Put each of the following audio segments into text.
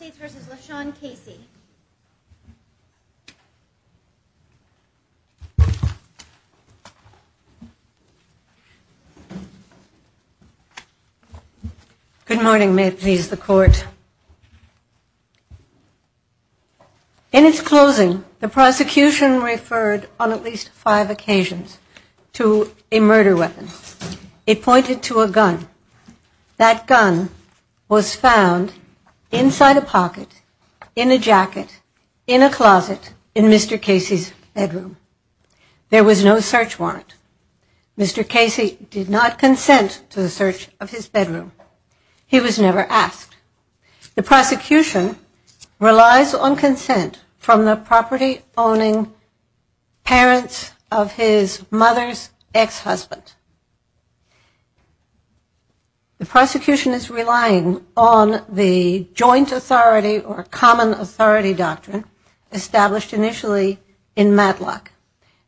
Good morning, may it please the court. In its closing, the prosecution referred, on at least five occasions, to a murder weapon. It pointed to a gun. That gun was found inside a pocket, in a jacket, in a closet, in Mr. Casey's bedroom. There was no search warrant. Mr. Casey did not consent to the search of his bedroom. He was never asked. The prosecution relies on consent from the joint authority or common authority doctrine, established initially in Matlock.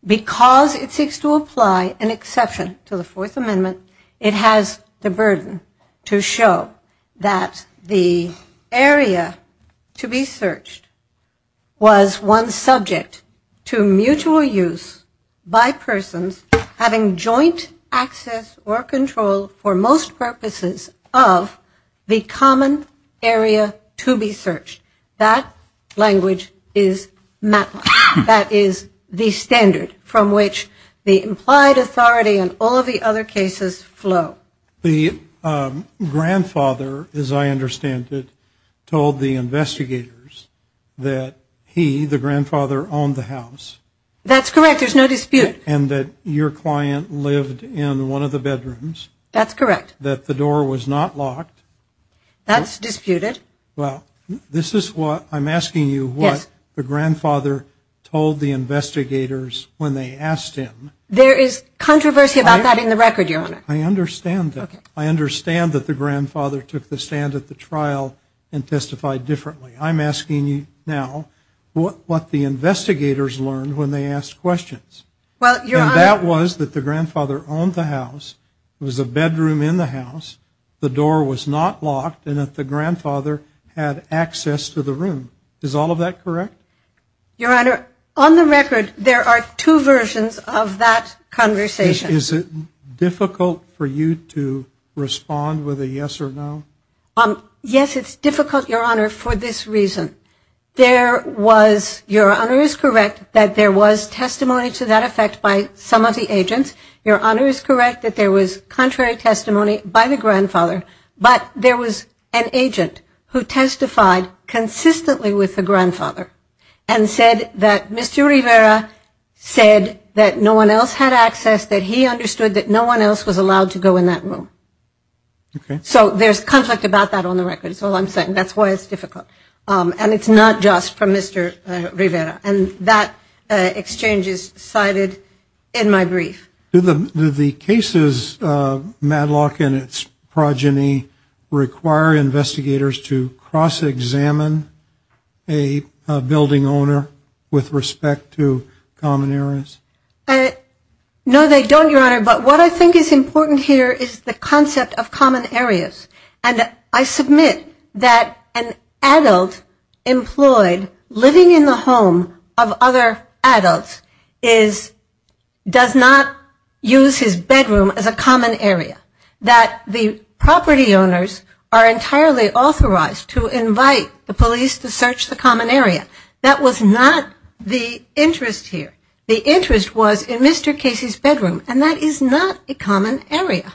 Because it seeks to apply an exception to the Fourth Amendment, it has the burden to show that the area to be searched was one subject to mutual use by persons having joint access or control, for most purposes, of the common area. That language is Matlock. That is the standard from which the implied authority and all of the other cases flow. The grandfather, as I understand it, told the investigators that he, the grandfather, owned the house. That's correct, there's no dispute. And that your client lived in one of the bedrooms. That's correct. That the door was not locked. That's disputed. Well, this is what I'm asking you, what the grandfather told the investigators when they asked him. There is controversy about that in the record, your honor. I understand that. I understand that the grandfather took the stand at the trial and testified differently. I'm asking you now, what the investigators learned when they asked questions. And that was that the grandfather owned the house, it was a bedroom in the house, the door was not locked, and that the grandfather had access to the room. Is all of that correct? Your honor, on the record, there are two versions of that conversation. Is it difficult for you to respond with a yes or no? Yes, it's difficult, your honor, for this reason. There was, your honor is correct, that there was testimony to that effect by some of the agents. Your honor is correct that there was contrary testimony by the grandfather, but there was an agent who testified consistently with the grandfather and said that Mr. Rivera said that no one else had access, that he understood that no one else was allowed to go in that room. So there's conflict about that on the record, that's all I'm saying, that's why it's difficult. And it's not just from Mr. Rivera. And that exchange is cited in my brief. Do the cases, MADLOCK and its progeny, require investigators to cross-examine a building owner with respect to common areas? No, they don't, your honor, but what I think is important here is the concept of common areas. And I submit that an adult employed living in the home of other adults does not use his bedroom as a common area. That the property owners are entirely authorized to invite the police to search the common area. That was not the interest here. The interest was in Mr. Casey's bedroom, and that is not a common area.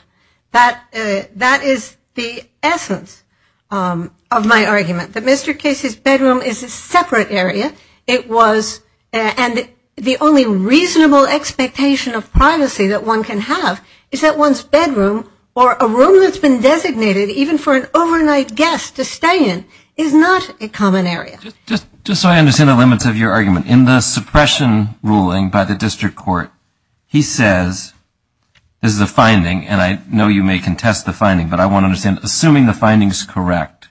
That is the essence of my argument, that Mr. Casey's bedroom is a separate area, and the only reasonable expectation of privacy that one can have is that one's bedroom or a room that's been designated even for an overnight guest to stay in is not a common area. Just so I understand the limits of your argument, in the suppression ruling by the district court, he says, this is a finding, and I know you may contest the finding, but I want to understand, assuming the finding is correct,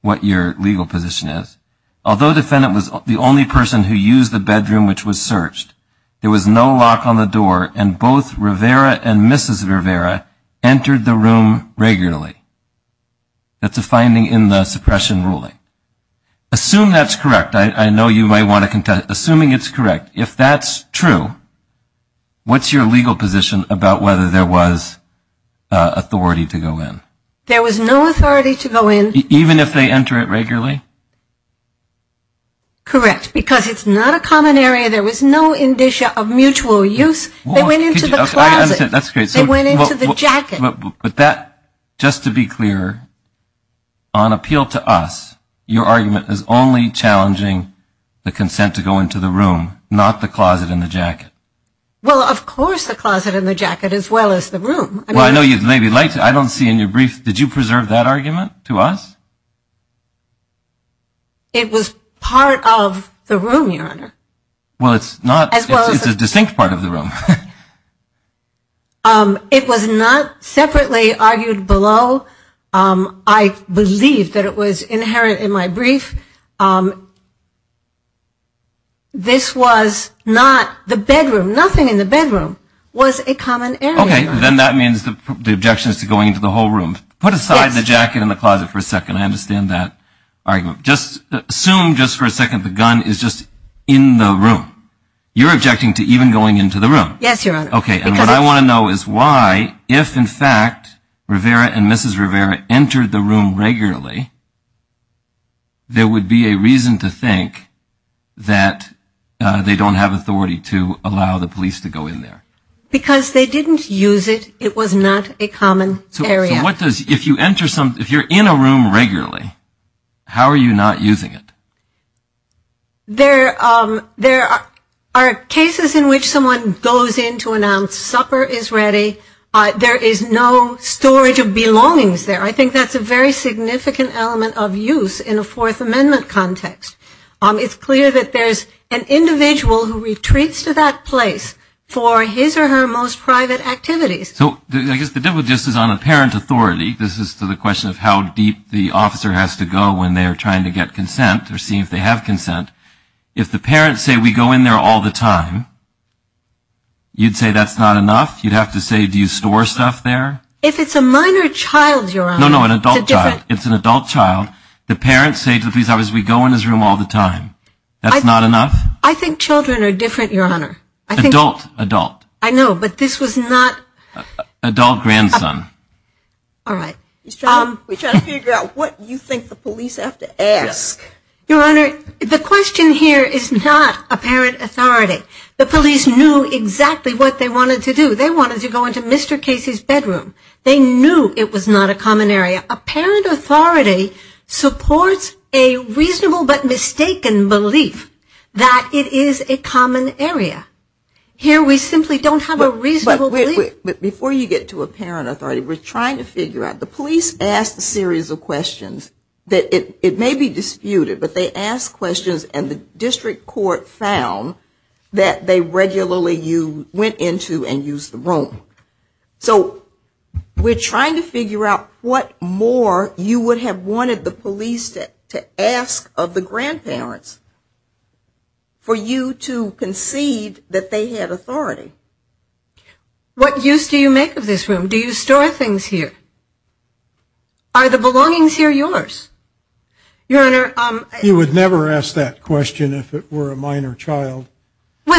what your legal position is, although the defendant was the only person who used the bedroom which was searched, there was no lock on the door and both Rivera and Mrs. Rivera entered the room regularly. That's a finding in the suppression ruling. Assume that's correct. I know you might want to contest it. Assuming it's correct, if that's true, what's your legal position about whether there was authority to go in? There was no authority to go in. Even if they enter it regularly? Correct. Because it's not a common area. There was no indicia of mutual use. They went into the closet. I understand. That's great. They went into the jacket. But that, just to be clear, on appeal to us, your argument is only challenging the consent to go into the room, not the closet and the jacket. Well, of course the closet and the jacket as well as the room. Well, I know you'd maybe like to, I don't see in your brief, did you preserve that argument to us? It was part of the room, Your Honor. Well, it's not. It's a distinct part of the room. It was not separately argued below. I believe that it was inherent in my brief. This was not the bedroom. Nothing in the bedroom was a common area. Okay. Then that means the objection is to going into the whole room. Put aside the jacket and the closet for a second. I understand that argument. Assume just for a second the gun is just in the room. You're objecting to even going into the room. Yes, Your Honor. Okay. And what I want to know is why, if in fact Rivera and Mrs. Rivera entered the room regularly, there would be a reason to think that they don't have authority to allow the police to go in there. Because they didn't use it. It was not a common area. If you're in a room regularly, how are you not using it? There are cases in which someone goes in to announce supper is ready. There is no storage of belongings there. I think that's a very significant element of use in a Fourth Amendment context. It's clear that there's an individual who retreats to that place for his or her most private activities. So I guess the difference is on a parent authority. This is to the question of how deep the officer has to go when they are trying to get consent or see if they have consent. If the parents say we go in there all the time, you'd say that's not enough? You'd have to say do you store stuff there? If it's a minor child, Your Honor. No, no, an adult child. It's a different. It's an adult child. The parents say to the police officers we go in his room all the time. That's not enough? I think children are different, Your Honor. Adult, adult. I know, but this was not. Adult grandson. All right. We try to figure out what you think the police have to ask. Your Honor, the question here is not a parent authority. The police knew exactly what they wanted to do. They wanted to go into Mr. Casey's bedroom. They knew it was not a common area. A parent authority supports a reasonable but mistaken belief that it is a common area. Here we simply don't have a reasonable belief. But before you get to a parent authority, we're trying to figure out. The police asked a series of questions that it may be disputed, but they asked questions and the district court found that they regularly went into and used the room. So we're trying to figure out what more you would have wanted the police to ask of the grandparents for you to concede that they had authority. What use do you make of this room? Do you store things here? Are the belongings here yours? Your Honor. You would never ask that question if it were a minor child. No,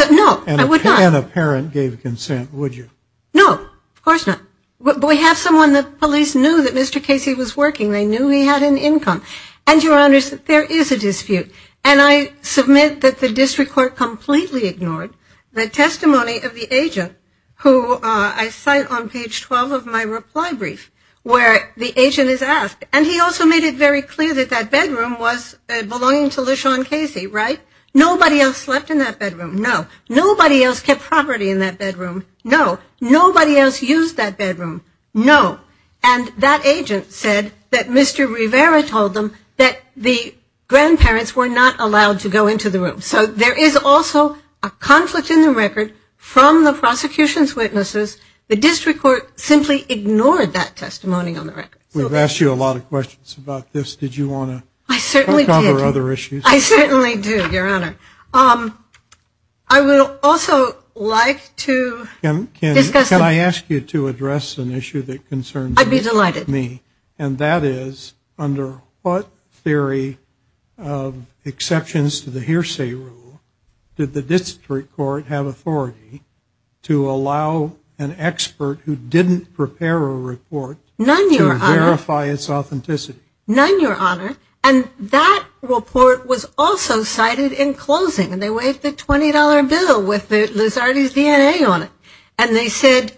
I would not. And a parent gave consent, would you? No, of course not. But we have someone the police knew that Mr. Casey was working. They knew he had an income. And, Your Honor, there is a dispute. And I submit that the district court completely ignored the testimony of the agent, who I cite on page 12 of my reply brief, where the agent is asked, and he also made it very clear that that bedroom was belonging to LeSean Casey, right? Nobody else slept in that bedroom. No. Nobody else kept property in that bedroom. No. Nobody else used that bedroom. No. And that agent said that Mr. Rivera told them that the grandparents were not allowed to go into the room. So there is also a conflict in the record from the prosecution's witnesses. The district court simply ignored that testimony on the record. We've asked you a lot of questions about this. Did you want to cover other issues? I certainly do, Your Honor. I would also like to discuss the issue. I'd be delighted. And that is, under what theory of exceptions to the hearsay rule did the district court have authority to allow an expert who didn't prepare a report to verify its authenticity? None, Your Honor. And that report was also cited in closing. And they waived the $20 bill with Liz Hardy's DNA on it. And they said,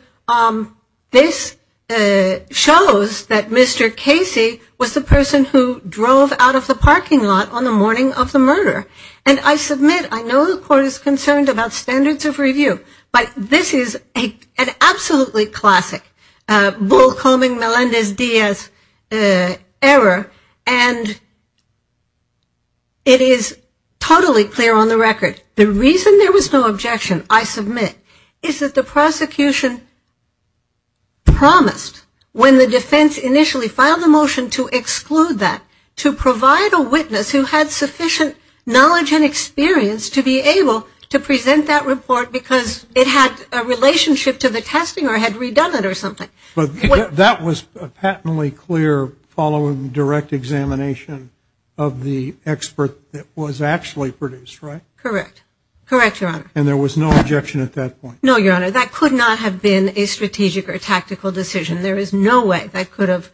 this shows that Mr. Casey was the person who drove out of the parking lot on the morning of the murder. And I submit, I know the court is concerned about standards of review, but this is an absolutely classic bull-combing Melendez Diaz error, and it is totally clear on the record. The reason there was no objection, I submit, is that the prosecution promised, when the defense initially filed a motion to exclude that, to provide a witness who had sufficient knowledge and experience to be able to present that report because it had a relationship to the testing or had redone it or something. But that was patently clear following direct examination of the expert that was actually produced, right? Correct. Correct, Your Honor. And there was no objection at that point? No, Your Honor. That could not have been a strategic or tactical decision. There is no way that could have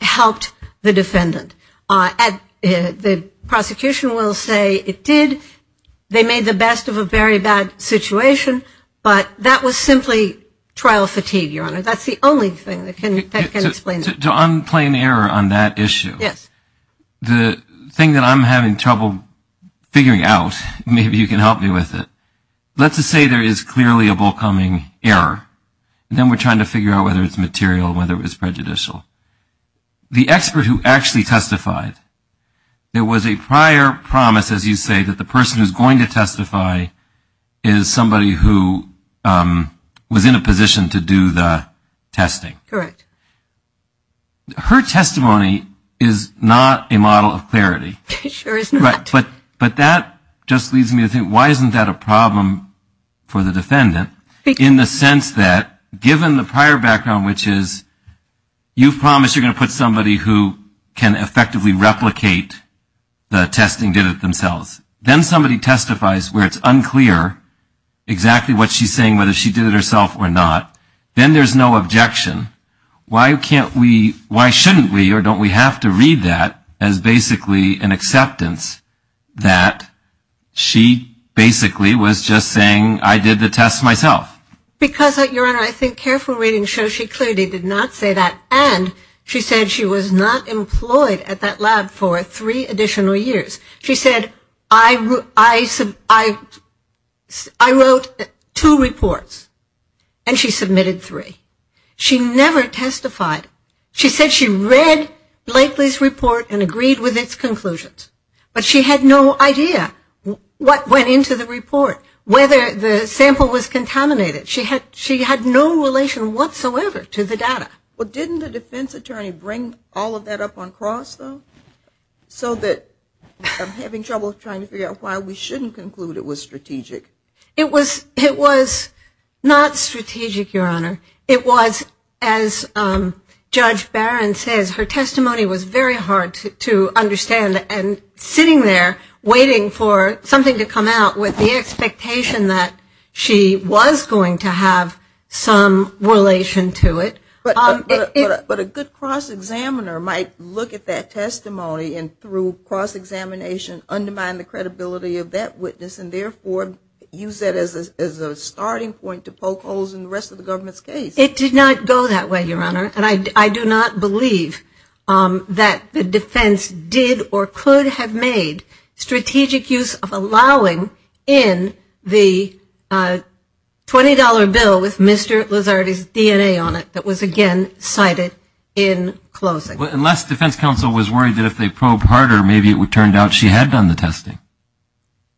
helped the defendant. The prosecution will say it did, they made the best of a very bad situation, but that was simply trial fatigue, Your Honor. That's the only thing that can explain that. To unplay an error on that issue. Yes. The thing that I'm having trouble figuring out, maybe you can help me with it, let's just say there is clearly a forthcoming error, and then we're trying to figure out whether it's material, whether it's prejudicial. The expert who actually testified, there was a prior promise, as you say, that the person who's going to testify is somebody who was in a position to do the testing. Correct. Her testimony is not a model of clarity. It sure is not. But that just leads me to think, why isn't that a problem for the defendant? In the sense that, given the prior background, which is, you've promised you're going to put somebody who can effectively replicate the testing, did it themselves. Then somebody testifies where it's unclear exactly what she's saying, whether she did it herself or not. Then there's no objection. Why shouldn't we or don't we have to read that as basically an acceptance that she basically was just saying, I did the test myself? Because, Your Honor, I think careful reading shows she clearly did not say that, and she said she was not employed at that lab for three additional years. She said, I wrote two reports, and she submitted three. She never testified. She said she read Blakely's report and agreed with its conclusions, but she had no idea what went into the report, whether the sample was contaminated. She had no relation whatsoever to the data. Well, didn't the defense attorney bring all of that up on cross, though, so that I'm having trouble trying to figure out why we shouldn't conclude it was strategic? It was not strategic, Your Honor. It was, as Judge Barron says, her testimony was very hard to understand, and sitting there waiting for something to come out with the expectation that she was going to have some relation to it. But a good cross-examiner might look at that testimony and through cross-examination undermine the credibility of that witness and therefore use that as a starting point to poke holes in the rest of the government's case. It did not go that way, Your Honor, and I do not believe that the defense did or could have made strategic use of allowing in the $20 bill with Mr. Lizardi's DNA on it that was, again, cited in closing. Unless defense counsel was worried that if they probed harder, maybe it turned out she had done the testing.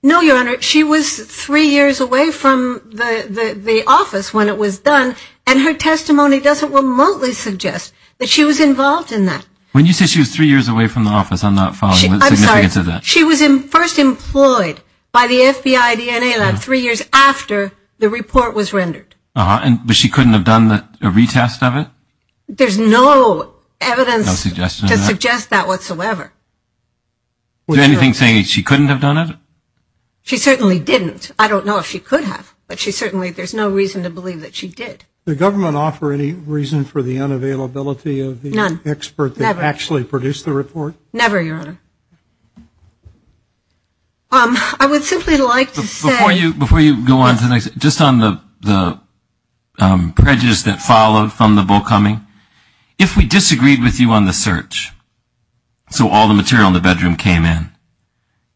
No, Your Honor. She was three years away from the office when it was done, and her testimony doesn't remotely suggest that she was involved in that. When you say she was three years away from the office, I'm not following the significance of that. She was first employed by the FBI DNA Lab three years after the report was rendered. But she couldn't have done a retest of it? There's no evidence to suggest that whatsoever. Is there anything saying she couldn't have done it? She certainly didn't. I don't know if she could have, but there's no reason to believe that she did. Did the government offer any reason for the unavailability of the expert that actually produced the report? No, never, Your Honor. I would simply like to say — Before you go on to the next, just on the prejudice that followed from the bull coming, if we disagreed with you on the search, so all the material in the bedroom came in,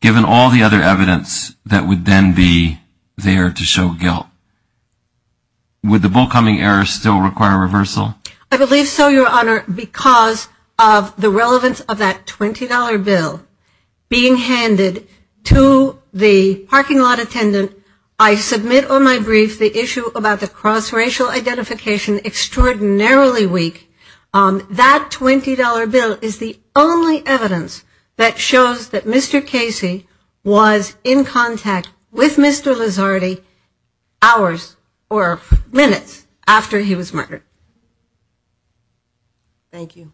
given all the other evidence that would then be there to show guilt, would the bull coming error still require reversal? I believe so, Your Honor, because of the relevance of that $20 bill being handed to the parking lot attendant. I submit on my brief the issue about the cross-racial identification extraordinarily weak. That $20 bill is the only evidence that shows that Mr. Casey was in contact with Mr. Lizardi hours or minutes after he was murdered. Thank you.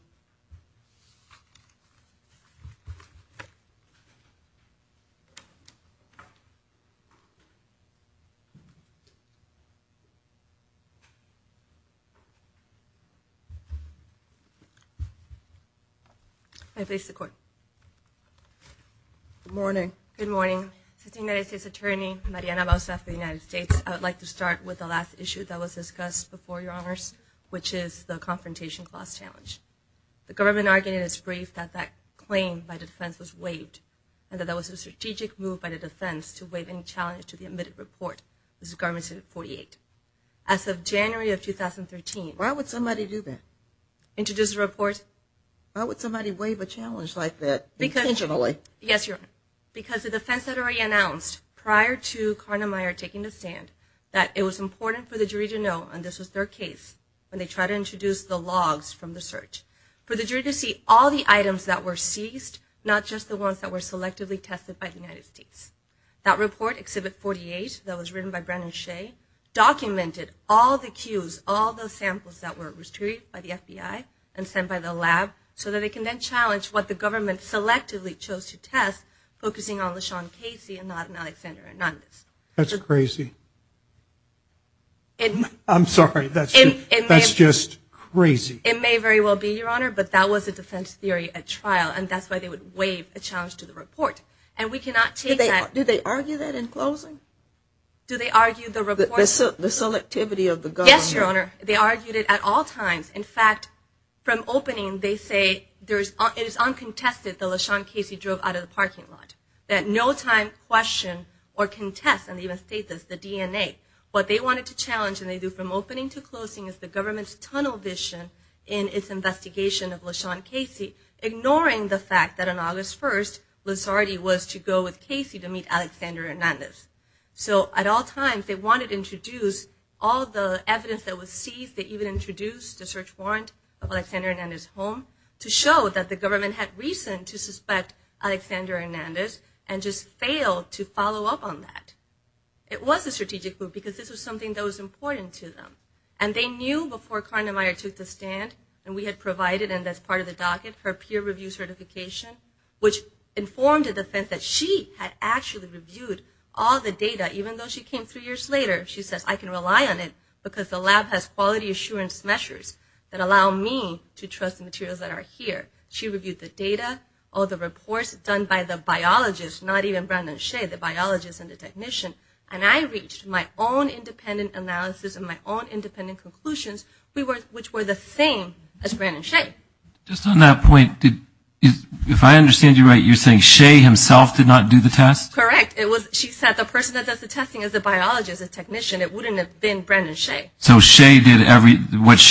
I place the court. Good morning. Good morning. Assistant United States Attorney, Mariana Balsaf of the United States. I would like to start with the last issue that was discussed before, Your Honors, which is the confrontation clause challenge. The government argued in its brief that that claim by defense was waived and that that was a strategic move by the defense to waive any challenge to the admitted report. This is Government Senate 48. As of January of 2013 — Why would somebody do that? Introduce the report. Why would somebody waive a challenge like that intentionally? Yes, Your Honor, because the defense had already announced prior to Karnemeyer taking the stand that it was important for the jury to know, and this was their case, when they tried to introduce the logs from the search, for the jury to see all the items that were seized, not just the ones that were selectively tested by the United States. That report, Exhibit 48, that was written by Brennan Shea, documented all the cues, all the samples that were retrieved by the FBI and sent by the lab, so that they can then challenge what the government selectively chose to test, focusing on LeSean Casey and not on Alexander Anandes. That's crazy. I'm sorry. That's just crazy. It may very well be, Your Honor, but that was a defense theory at trial, and that's why they would waive a challenge to the report. Do they argue that in closing? Do they argue the report? The selectivity of the government. Yes, Your Honor. They argued it at all times. In fact, from opening, they say it is uncontested that LeSean Casey drove out of the parking lot, that no time, question, or contest, and they even state this, the DNA. What they wanted to challenge, and they do from opening to closing, is the government's tunnel vision in its investigation of LeSean Casey, ignoring the fact that on August 1st, Lazzardi was to go with Casey to meet Alexander Anandes. So at all times, they wanted to introduce all the evidence that was seized, they even introduced the search warrant of Alexander Anandes' home, to show that the government had reason to suspect Alexander Anandes and just failed to follow up on that. It was a strategic move because this was something that was important to them, and they knew before Karna Meyer took the stand, and we had provided, and that's part of the docket, her peer review certification, which informed the defense that she had actually reviewed all the data, even though she came three years later. She says, I can rely on it because the lab has quality assurance measures that allow me to trust the materials that are here. She reviewed the data, all the reports done by the biologists, not even Brandon Shea, the biologist and the technician, and I reached my own independent analysis and my own independent conclusions, which were the same as Brandon Shea. Just on that point, if I understand you right, you're saying Shea himself did not do the test? Correct. She said the person that does the testing is the biologist, the technician. It wouldn't have been Brandon Shea. So what she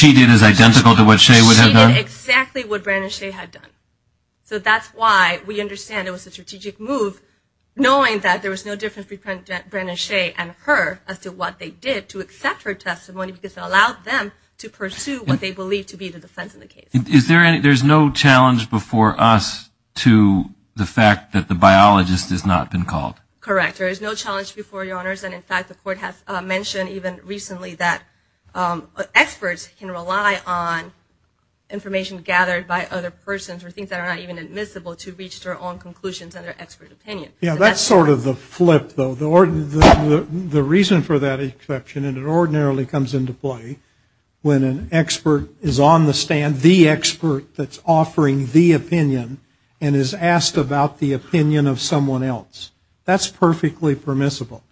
did is identical to what Shea would have done? She did exactly what Brandon Shea had done. So that's why we understand it was a strategic move, knowing that there was no difference between Brandon Shea and her as to what they did to accept her testimony, because it allowed them to pursue what they believed to be the defense of the case. There's no challenge before us to the fact that the biologist has not been called? Correct. There is no challenge before you, Your Honors, and, in fact, the Court has mentioned even recently that experts can rely on information gathered by other persons or things that are not even admissible to reach their own conclusions and their expert opinion. Yeah, that's sort of the flip, though. The reason for that exception, and it ordinarily comes into play, when an expert is on the stand, the expert that's offering the opinion and is asked about the opinion of someone else, that's perfectly permissible.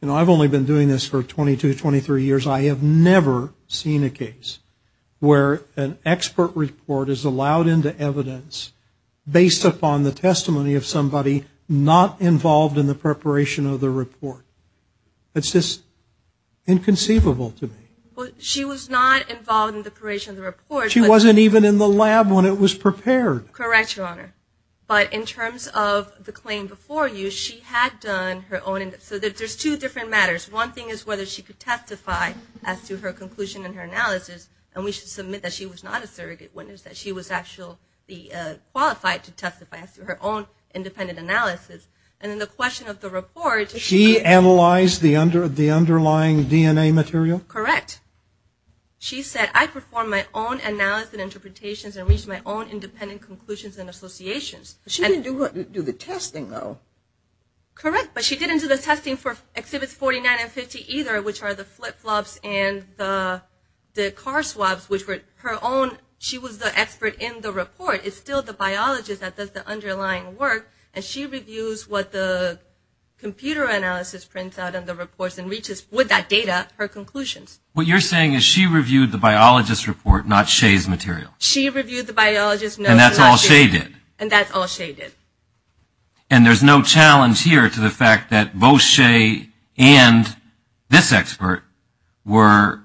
You know, I've only been doing this for 22, 23 years. I have never seen a case where an expert report is allowed into evidence based upon the testimony of somebody not involved in the preparation of the report. It's just inconceivable to me. Well, she was not involved in the preparation of the report. She wasn't even in the lab when it was prepared. Correct, Your Honor. But in terms of the claim before you, she had done her own. So there's two different matters. One thing is whether she could testify as to her conclusion and her analysis, and we should submit that she was not a surrogate witness, that she was actually qualified to testify as to her own independent analysis. And then the question of the report. She analyzed the underlying DNA material? Correct. She said, I performed my own analysis and interpretations and reached my own independent conclusions and associations. She didn't do the testing, though. Correct, but she didn't do the testing for Exhibits 49 and 50 either, which are the flip-flops and the car swabs, which were her own. She was the expert in the report. It's still the biologist that does the underlying work, and she reviews what the computer analysis prints out in the reports and reaches with that data her conclusions. What you're saying is she reviewed the biologist's report, not Shea's material. She reviewed the biologist's notes, not Shea's. And that's all Shea did. And that's all Shea did. And there's no challenge here to the fact that both Shea and this expert were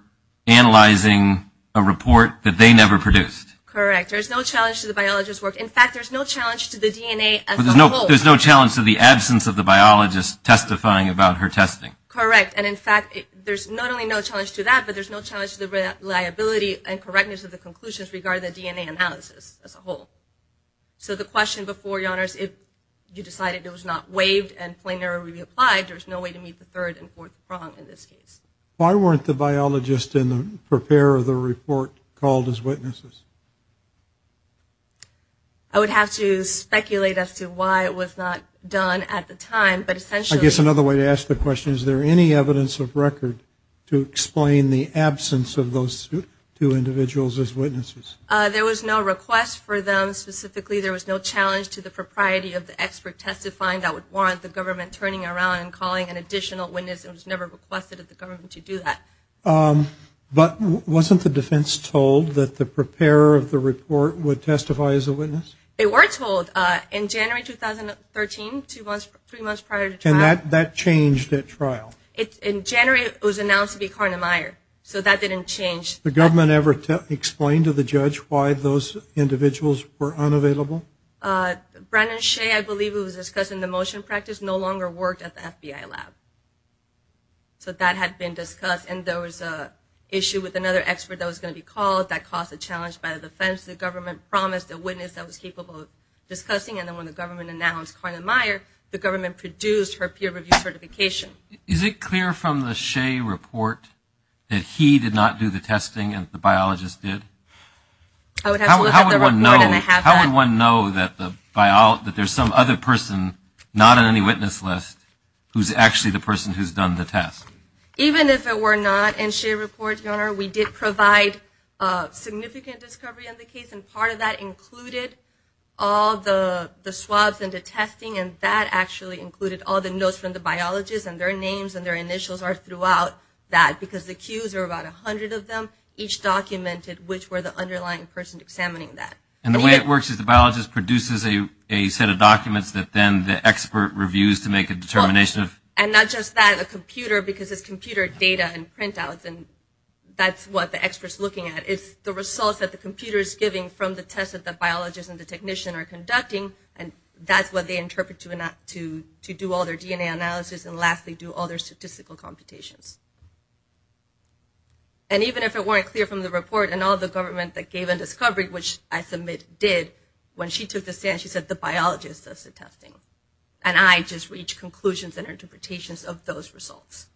analyzing a report that they never produced. Correct. There's no challenge to the biologist's work. In fact, there's no challenge to the DNA as a whole. There's no challenge to the absence of the biologist testifying about her testing. Correct. And, in fact, there's not only no challenge to that, but there's no challenge to the reliability and correctness of the conclusions regarding the DNA analysis as a whole. So the question before, Your Honors, if you decided it was not waived and plain error reapplied, there's no way to meet the third and fourth prong in this case. Why weren't the biologist in the prepare of the report called as witnesses? I would have to speculate as to why it was not done at the time. But essentially. I guess another way to ask the question, is there any evidence of record to explain the absence of those two individuals as witnesses? There was no request for them specifically. There was no challenge to the propriety of the expert testifying that would warrant the government turning around and calling an additional witness. It was never requested of the government to do that. But wasn't the defense told that the preparer of the report would testify as a witness? They were told. In January 2013, three months prior to trial. And that changed at trial? In January it was announced to be Karna Meyer. So that didn't change. The government ever explained to the judge why those individuals were unavailable? Brandon Shea, I believe, who was discussed in the motion practice, no longer worked at the FBI lab. So that had been discussed. And there was an issue with another expert that was going to be called that caused a challenge by the defense. The government promised a witness that was capable of discussing. And then when the government announced Karna Meyer, the government produced her peer review certification. Is it clear from the Shea report that he did not do the testing and the biologist did? I would have to look at the report and have that. How would one know that there's some other person not on any witness list who's actually the person who's done the test? Even if it were not in Shea's report, Your Honor, we did provide significant discovery in the case. And part of that included all the swabs and the testing. And that actually included all the notes from the biologist. And their names and their initials are throughout that. Because the cues are about 100 of them, each documented which were the underlying person examining that. And the way it works is the biologist produces a set of documents that then the expert reviews to make a determination of. And not just that, a computer, because it's computer data and printouts. And that's what the expert's looking at is the results that the computer is giving from the test that the biologist and the technician are conducting. And that's what they interpret to do all their DNA analysis and, lastly, do all their statistical computations. And even if it weren't clear from the report and all the government that gave a discovery, which I submit did when she took the stand, she said the biologist does the testing. And I just reached conclusions and interpretations of those results.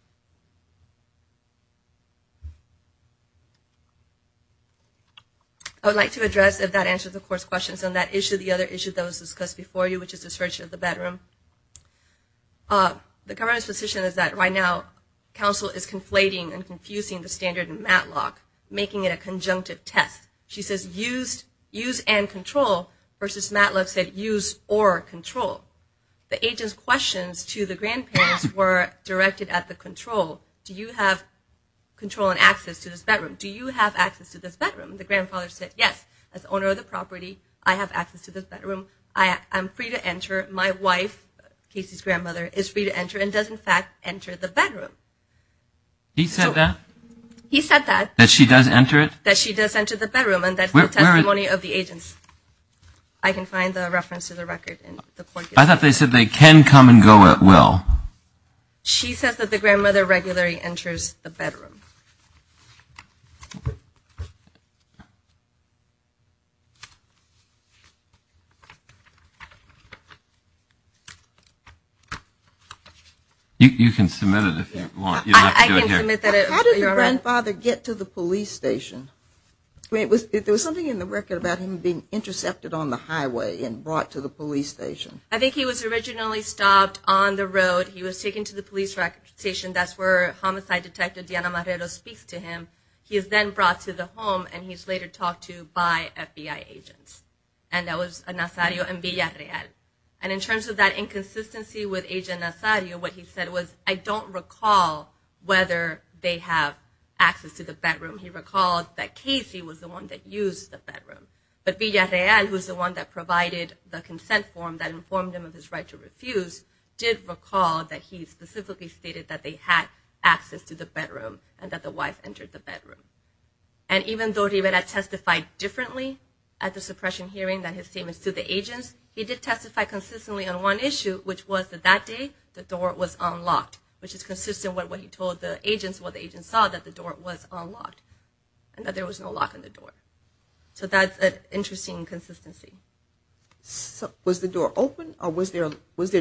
I would like to address, if that answers the Court's questions on that issue, the other issue that was discussed before you, which is the search of the bedroom. The government's position is that right now counsel is conflating and confusing the standard in Matlock, making it a conjunctive test. She says use and control versus Matlock said use or control. The agent's questions to the grandparents were directed at the control. Do you have control and access to this bedroom? Do you have access to this bedroom? The grandfather said, yes, as owner of the property, I have access to this bedroom. I'm free to enter. My wife, Casey's grandmother, is free to enter and does, in fact, enter the bedroom. He said that? He said that. That she does enter it? That she does enter the bedroom. And that's the testimony of the agents. I can find the reference to the record. I thought they said they can come and go at will. She says that the grandmother regularly enters the bedroom. You can submit it if you want. I can submit that. How did the grandfather get to the police station? There was something in the record about him being intercepted on the highway and brought to the police station. I think he was originally stopped on the road. He was taken to the police station. That's where homicide detective Diana Marrero speaks to him. He is then brought to the home, and he's later talked to by FBI agents, and that was enough evidence. And in terms of that inconsistency with Agent Nazario, what he said was, I don't recall whether they have access to the bedroom. He recalled that Casey was the one that used the bedroom. But Villarreal, who is the one that provided the consent form that informed him of his right to refuse, did recall that he specifically stated that they had access to the bedroom and that the wife entered the bedroom. And even though Rivera testified differently at the suppression hearing, that his statements to the agents, he did testify consistently on one issue, which was that that day the door was unlocked, which is consistent with what he told the agents, what the agents saw, that the door was unlocked, and that there was no lock on the door. So that's an interesting inconsistency. Was the door open, or was there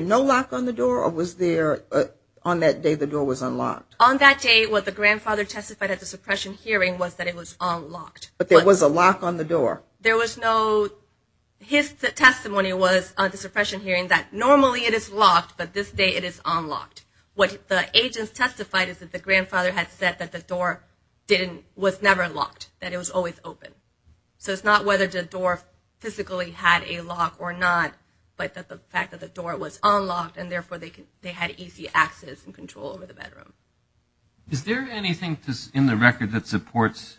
no lock on the door, or was there on that day the door was unlocked? On that day, what the grandfather testified at the suppression hearing was that it was unlocked. But there was a lock on the door. There was no – his testimony was at the suppression hearing that normally it is locked, but this day it is unlocked. What the agents testified is that the grandfather had said that the door was never locked, that it was always open. So it's not whether the door physically had a lock or not, but that the fact that the door was unlocked, and therefore they had easy access and control over the bedroom. Is there anything in the record that supports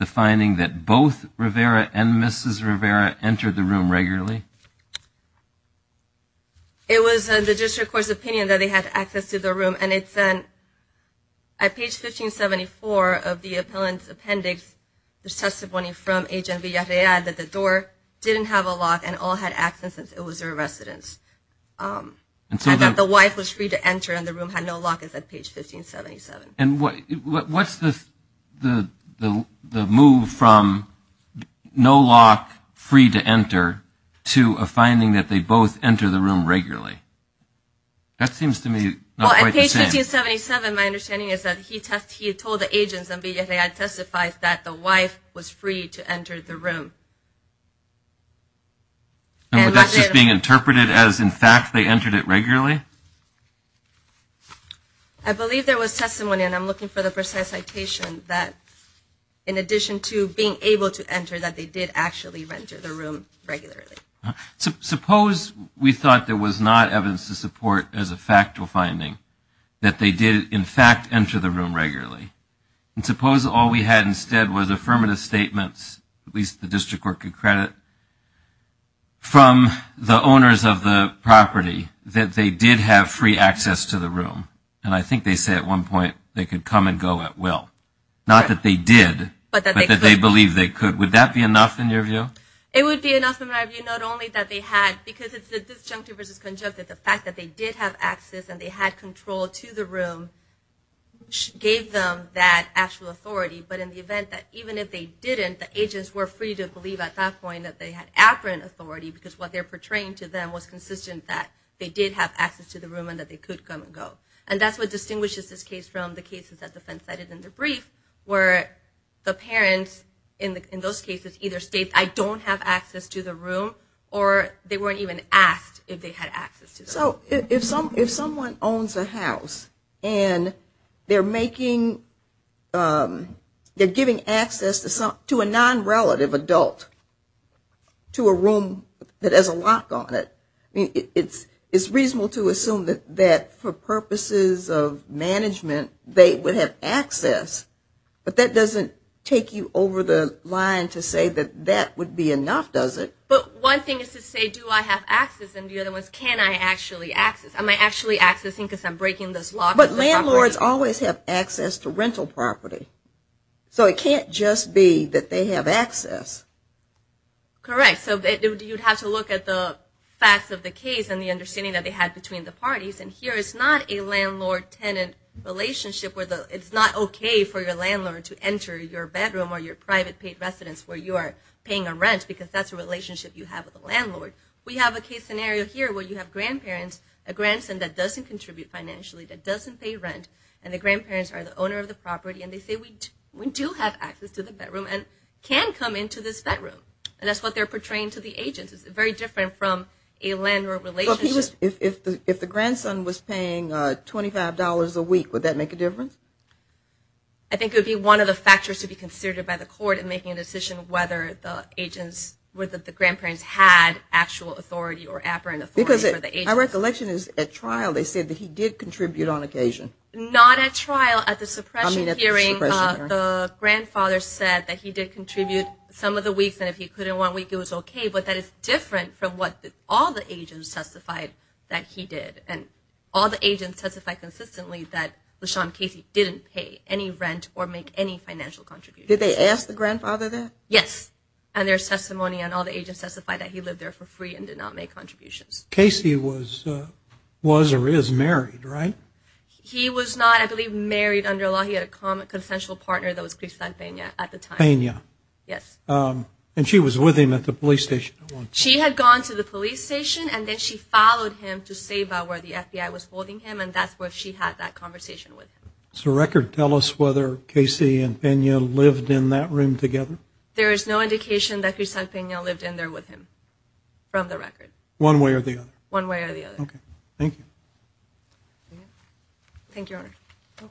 the finding that both Rivera and Mrs. Rivera entered the room regularly? It was the district court's opinion that they had access to the room, and it said at page 1574 of the appellant's appendix, there's testimony from Agent Villarreal that the door didn't have a lock and all had access, and it was their residence. The wife was free to enter, and the room had no lock. It's at page 1577. And what's the move from no lock, free to enter, to a finding that they both enter the room regularly? That seems to me not quite the same. Well, at page 1577, my understanding is that he told the agents, and Villarreal testifies, that the wife was free to enter the room. And that's just being interpreted as, in fact, they entered it regularly? I believe there was testimony, and I'm looking for the precise citation, that in addition to being able to enter, that they did actually enter the room regularly. Suppose we thought there was not evidence to support as a factual finding that they did, in fact, enter the room regularly. And suppose all we had instead was affirmative statements, at least the district court could credit, from the owners of the property, that they did have free access to the room. And I think they say at one point they could come and go at will. Not that they did, but that they believed they could. Would that be enough in your view? It would be enough in my view, not only that they had, because it's the disjunctive versus conjunctive. The fact that they did have access and they had control to the room gave them that actual authority. But in the event that even if they didn't, that the agents were free to believe at that point that they had apparent authority because what they're portraying to them was consistent that they did have access to the room and that they could come and go. And that's what distinguishes this case from the cases that the defense cited in the brief, where the parents in those cases either state, I don't have access to the room, or they weren't even asked if they had access to the room. So if someone owns a house, and they're giving access to a non-relative adult to a room that has a lock on it, it's reasonable to assume that for purposes of management they would have access. But that doesn't take you over the line to say that that would be enough, does it? But one thing is to say, do I have access? And the other one is, can I actually access? Am I actually accessing because I'm breaking this lock? But landlords always have access to rental property. So it can't just be that they have access. Correct. So you'd have to look at the facts of the case and the understanding that they had between the parties. And here it's not a landlord-tenant relationship where it's not okay for your landlord to enter your bedroom or your private paid residence where you are paying a rent because that's a relationship you have with the landlord. We have a case scenario here where you have grandparents, a grandson that doesn't contribute financially, that doesn't pay rent, and the grandparents are the owner of the property. And they say, we do have access to the bedroom and can come into this bedroom. And that's what they're portraying to the agents. It's very different from a landlord relationship. If the grandson was paying $25 a week, would that make a difference? I think it would be one of the factors to be considered by the court in making a decision whether the agents, whether the grandparents had actual authority or apparent authority for the agents. Because my recollection is at trial they said that he did contribute on occasion. Not at trial. At the suppression hearing the grandfather said that he did contribute some of the weeks and if he couldn't one week it was okay. But that is different from what all the agents testified that he did. And all the agents testified consistently that LaShawn Casey didn't pay any rent or make any financial contributions. Did they ask the grandfather that? Yes. And their testimony and all the agents testified that he lived there for free and did not make contributions. Casey was or is married, right? He was not, I believe, married under law. He had a consensual partner that was Crisant Pena at the time. Pena. Yes. And she was with him at the police station at one point. She had gone to the police station and then she followed him to Sabah where the FBI was holding him and that's where she had that conversation with him. Does the record tell us whether Casey and Pena lived in that room together? There is no indication that Crisant Pena lived in there with him from the record. One way or the other? One way or the other. Okay. Thank you. Thank you, Your Honor.